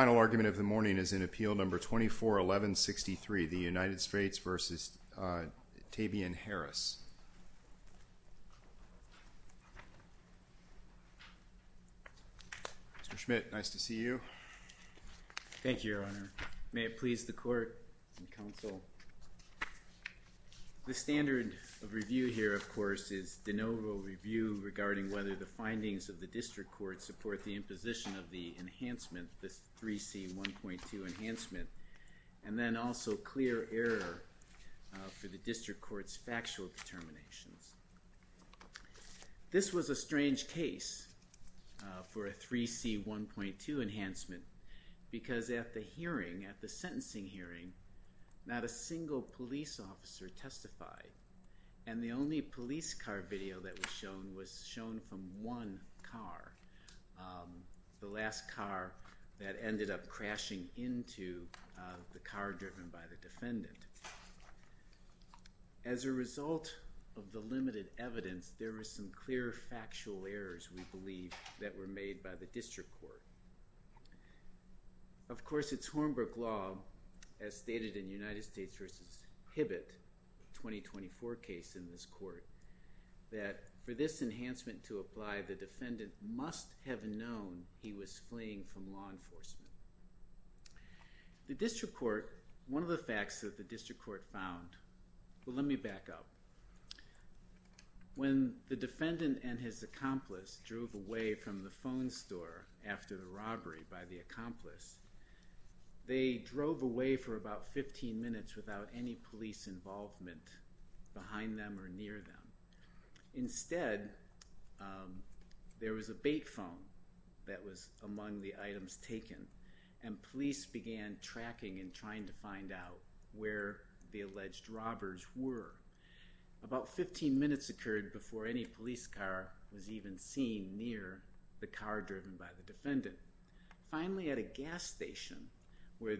The final argument of the morning is in Appeal No. 241163, the United States v. Taibian Harris. Mr. Schmidt, nice to see you. Thank you, Your Honor. May it please the Court and Counsel, the standard of review here, of course, is de novo review regarding whether the findings of the District Court support the imposition of the enhancement of the 3C1.2 enhancement, and then also clear error for the District Court's factual determinations. This was a strange case for a 3C1.2 enhancement, because at the hearing, at the sentencing hearing, not a single police officer testified, and the only police car video that was shown from one car, the last car that ended up crashing into the car driven by the defendant. As a result of the limited evidence, there were some clear factual errors, we believe, that were made by the District Court. Of course, it's Hornbrook law, as stated in United States v. Hibbett, 2024 case in this court, that for this enhancement to apply, the defendant must have known he was fleeing from law enforcement. The District Court, one of the facts that the District Court found, well, let me back up. When the defendant and his accomplice drove away from the phone store after the robbery by the accomplice, they drove away for about 15 minutes without any police involvement behind them or near them. Instead, there was a bait phone that was among the items taken, and police began tracking and trying to find out where the alleged robbers were. About 15 minutes occurred before any police car was even seen near the car driven by the Finally, at a gas station, where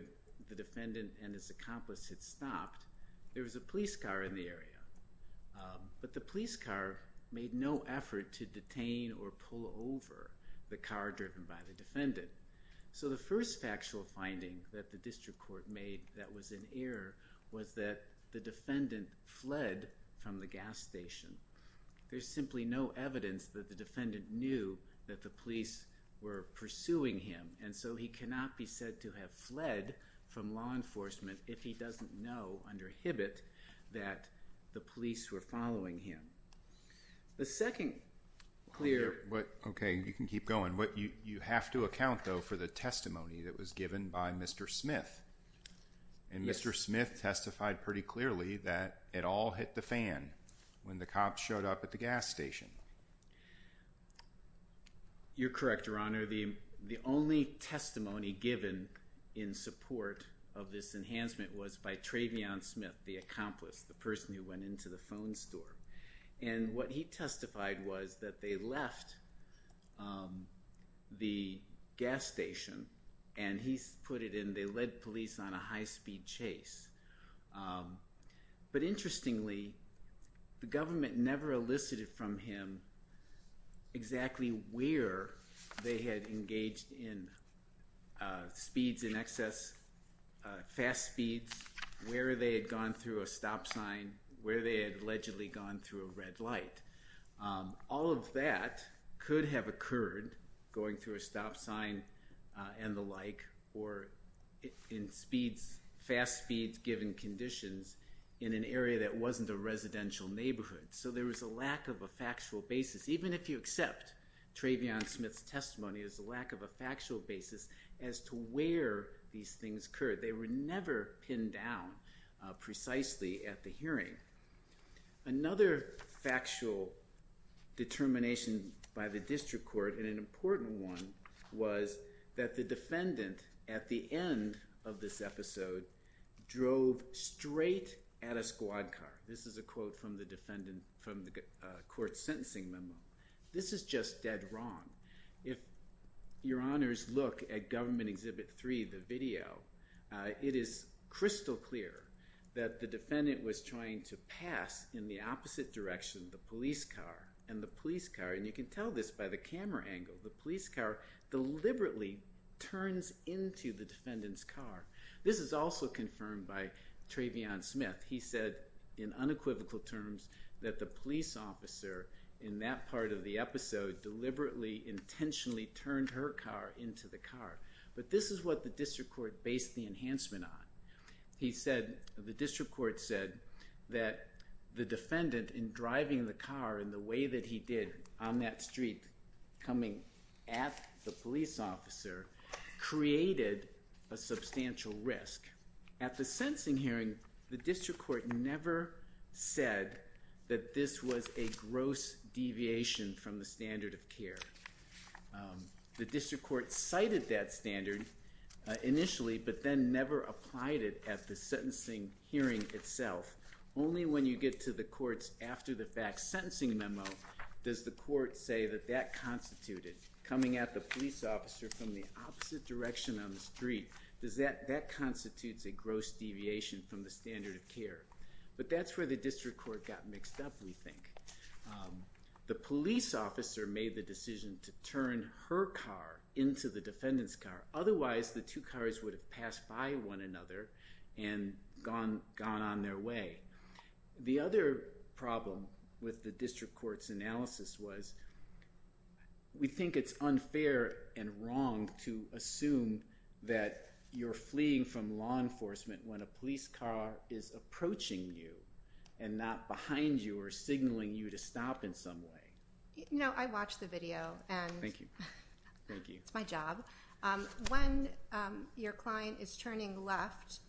the defendant and his accomplice had stopped, there was a police car in the area. But the police car made no effort to detain or pull over the car driven by the defendant. So the first factual finding that the District Court made that was an error was that the defendant fled from the gas station. There's simply no evidence that the defendant knew that the police were pursuing him, and so he cannot be said to have fled from law enforcement if he doesn't know under Hibbett that the police were following him. The second clear... Okay, you can keep going. You have to account, though, for the testimony that was given by Mr. Smith, and Mr. Smith testified pretty clearly that it all hit the fan when the cops showed up at the gas station. You're correct, Your Honor. The only testimony given in support of this enhancement was by Travion Smith, the accomplice, the person who went into the phone store. And what he testified was that they left the gas station, and he put it in, they led police on a high speed chase. But interestingly, the government never elicited from him exactly where they had engaged in speeds in excess, fast speeds, where they had gone through a stop sign, where they had allegedly gone through a red light. All of that could have occurred, going through a stop sign and the like, or in speeds, fast speeds given conditions in an area that wasn't a residential neighborhood. So there was a lack of a factual basis. Even if you accept Travion Smith's testimony, there's a lack of a factual basis as to where these things occurred. They were never pinned down precisely at the hearing. Another factual determination by the district court, and an important one, was that the defendant at the end of this episode drove straight at a squad car. This is a quote from the court's sentencing memo. This is just dead wrong. If your honors look at Government Exhibit 3, the video, it is crystal clear that the defendant was trying to pass in the opposite direction, the police car, and the police car, and you can tell this by the camera angle, the police car deliberately turns into the defendant's car. This is also confirmed by Travion Smith. He said in unequivocal terms that the police officer in that part of the episode deliberately intentionally turned her car into the car. But this is what the district court based the enhancement on. He said, the district court said, that the defendant, in driving the car in the way that he did on that street, coming at the police officer, created a substantial risk. At the sentencing hearing, the district court never said that this was a gross deviation from the standard of care. The district court cited that standard initially, but then never applied it at the sentencing hearing itself. Only when you get to the court's after the fact sentencing memo does the court say that that constituted, coming at the police officer from the opposite direction on the street, that constitutes a gross deviation from the standard of care. But that's where the district court got mixed up, we think. The police officer made the decision to turn her car into the defendant's car, otherwise the two cars would have passed by one another and gone on their way. The other problem with the district court's analysis was, we think it's unfair and wrong to assume that you're fleeing from law enforcement when a police car is approaching you and not behind you or signaling you to stop in some way. No, I watched the video. Thank you. It's my job. When your client is turning left,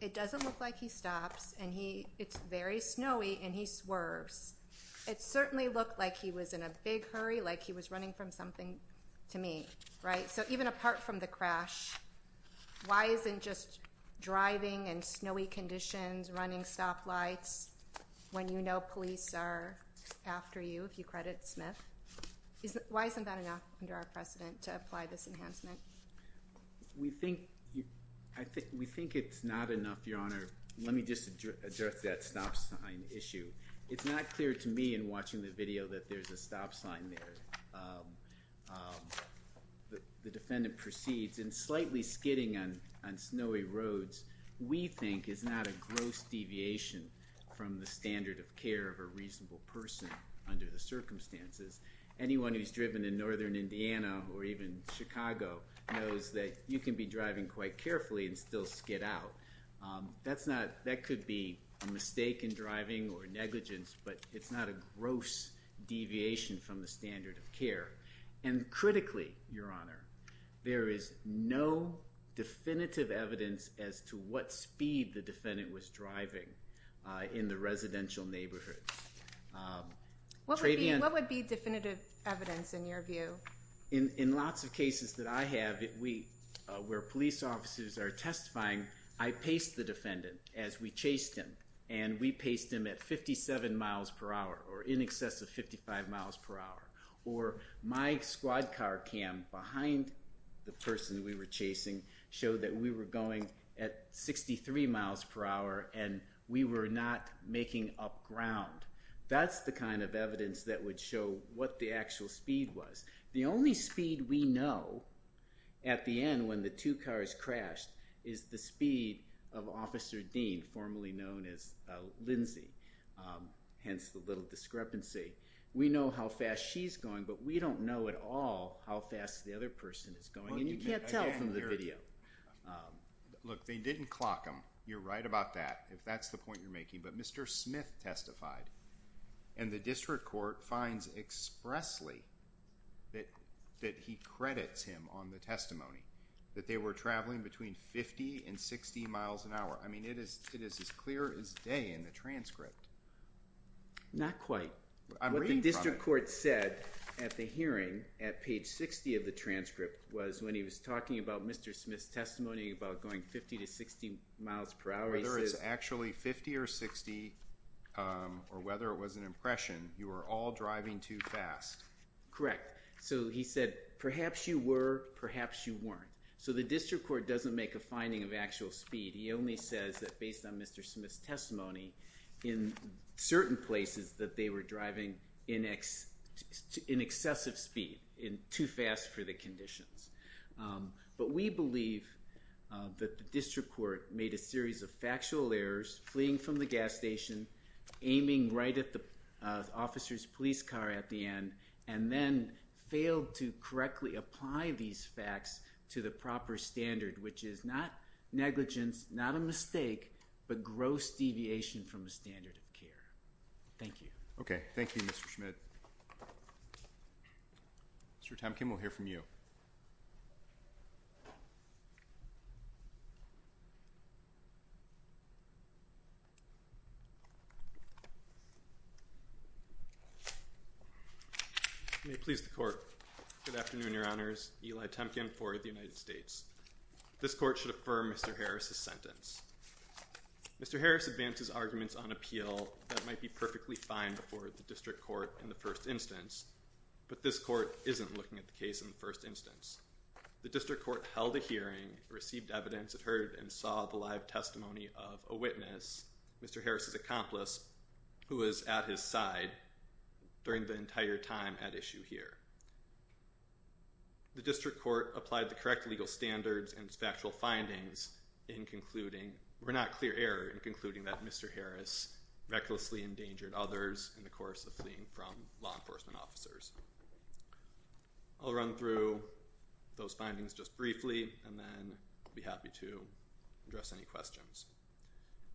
it doesn't look like he stops, and it's very snowy, and he swerves. It certainly looked like he was in a big hurry, like he was running from something to me, right? So even apart from the crash, why isn't just driving in snowy conditions, running stop lights, when you know police are after you, if you credit Smith, why isn't that enough under our precedent to apply this enhancement? We think it's not enough, Your Honor. Let me just address that stop sign issue. It's not clear to me in watching the video that there's a stop sign there. The defendant proceeds, and slightly skidding on snowy roads, we think is not a gross deviation from the standard of care of a reasonable person under the circumstances. Anyone who's driven in northern Indiana or even Chicago knows that you can be driving quite carefully and still skid out. That could be a mistake in driving or negligence, but it's not a gross deviation from the standard of care. And critically, Your Honor, there is no definitive evidence as to what speed the defendant was driving in the residential neighborhood. What would be definitive evidence in your view? In lots of cases that I have, where police officers are testifying, I pace the defendant as we chased him, and we paced him at 57 miles per hour, or in excess of 55 miles per hour. Or my squad car cam behind the person we were chasing showed that we were going at 63 miles per hour, and we were not making up ground. That's the kind of evidence that would show what the actual speed was. The only speed we know at the end when the two cars crashed is the speed of Officer Dean, formerly known as Lindsey, hence the little discrepancy. We know how fast she's going, but we don't know at all how fast the other person is going, and you can't tell from the video. Look, they didn't clock him. You're right about that, if that's the point you're making, but Mr. Smith testified, and the district court finds expressly that he credits him on the testimony, that they were traveling between 50 and 60 miles an hour. I mean, it is as clear as day in the transcript. Not quite. I'm reading from it. What the district court said at the hearing, at page 60 of the transcript, was when he was talking about Mr. Smith's testimony about going 50 to 60 miles per hour, he said... It was actually 50 or 60, or whether it was an impression, you were all driving too fast. Correct. So he said, perhaps you were, perhaps you weren't. So the district court doesn't make a finding of actual speed. He only says that based on Mr. Smith's testimony, in certain places that they were driving in excessive speed, too fast for the conditions. But we believe that the district court made a series of factual errors, fleeing from the gas station, aiming right at the officer's police car at the end, and then failed to correctly apply these facts to the proper standard, which is not negligence, not a mistake, but gross deviation from the standard of care. Thank you. Okay. Thank you, Mr. Schmidt. Mr. Temkin, we'll hear from you. May it please the court. Good afternoon, your honors. Eli Temkin for the United States. This court should affirm Mr. Harris's sentence. Mr. Harris advances arguments on appeal that might be perfectly fine before the district court in the first instance, but this court isn't looking at the case in the first instance. The district court held a hearing, received evidence, and heard and saw the live testimony of a witness, Mr. Harris's accomplice, who was at his side during the entire time at issue here. The district court applied the correct legal standards and its factual findings in concluding, were not clear error, in concluding that Mr. Harris recklessly endangered others in the course of fleeing from law enforcement officers. I'll run through those findings just briefly, and then I'll be happy to address any questions.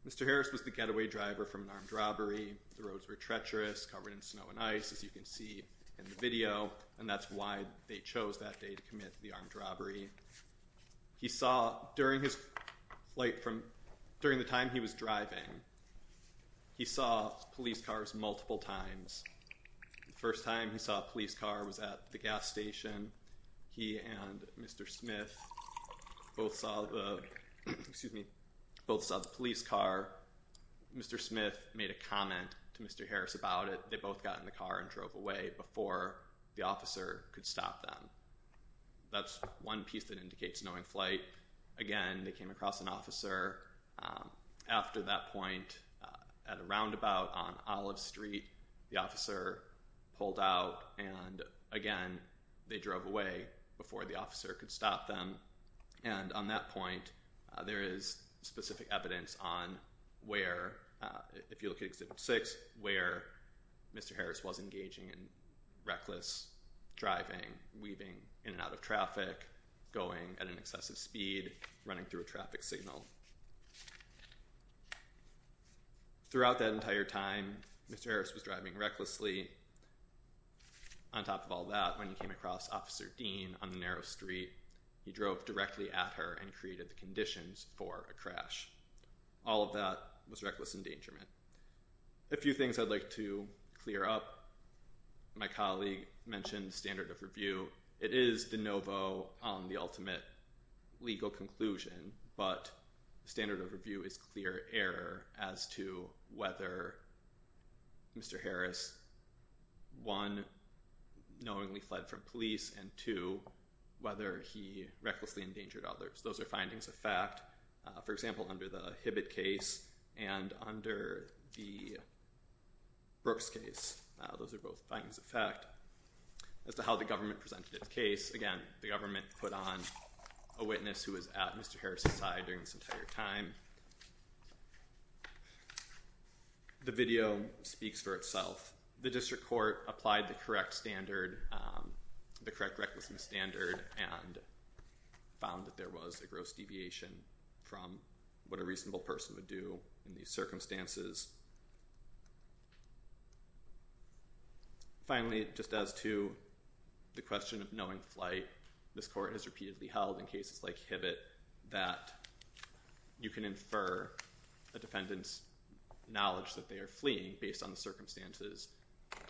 Mr. Harris was the getaway driver from an armed robbery. The roads were treacherous, covered in snow and ice, as you can see in the video, and that's why they chose that day to commit the armed robbery. During the time he was driving, he saw police cars multiple times. The first time he saw a police car was at the gas station. He and Mr. Smith both saw the police car. Mr. Smith made a comment to Mr. Harris about it. They both got in the car and drove away before the officer could stop them. That's one piece that indicates knowing flight. Again, they came across an officer. After that point, at a roundabout on Olive Street, the officer pulled out and, again, they drove away before the officer could stop them, and on that point, there is specific evidence on where, if you look at Exhibit 6, where Mr. Harris was engaging in reckless driving, weaving in and out of traffic, going at an excessive speed, running through a traffic signal. Throughout that entire time, Mr. Harris was driving recklessly. On top of all that, when he came across Officer Dean on the narrow street, he drove directly at her and created the conditions for a crash. All of that was reckless endangerment. A few things I'd like to clear up. My colleague mentioned standard of review. It is de novo on the ultimate legal conclusion, but standard of review is clear error as to whether Mr. Harris, one, knowingly fled from police, and two, whether he recklessly endangered others. Those are findings of fact. For example, under the Hibbitt case and under the Brooks case, those are both findings of fact. As to how the government presented its case, again, the government put on a witness who was at Mr. Harris' side during this entire time. The video speaks for itself. The district court applied the correct standard, the correct recklessness standard, and found that there was a gross deviation from what a reasonable person would do in these circumstances. Finally, just as to the question of knowing flight, this court has repeatedly held in cases like Hibbitt that you can infer a defendant's knowledge that they are fleeing based on the circumstances,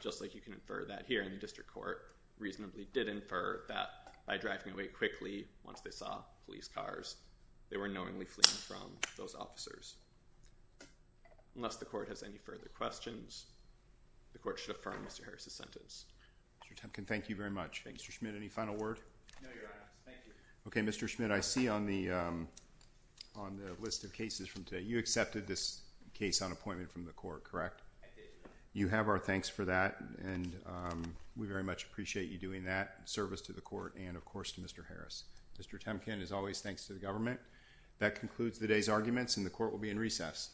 just like you can infer that here in the district court reasonably did infer that by driving away quickly once they saw police cars, they were knowingly fleeing from those officers. Unless the court has any further questions, the court should affirm Mr. Harris' sentence. Mr. Temkin, thank you very much. Thank you. Mr. Schmidt, any final word? No, Your Honor. Thank you. Okay, Mr. Schmidt, I see on the list of cases from today, you accepted this case on appointment from the court, correct? I did. You have our thanks for that, and we very much appreciate you doing that service to the court and, of course, to Mr. Harris. Mr. Temkin, as always, thanks to the government. That concludes today's arguments, and the court will be in recess.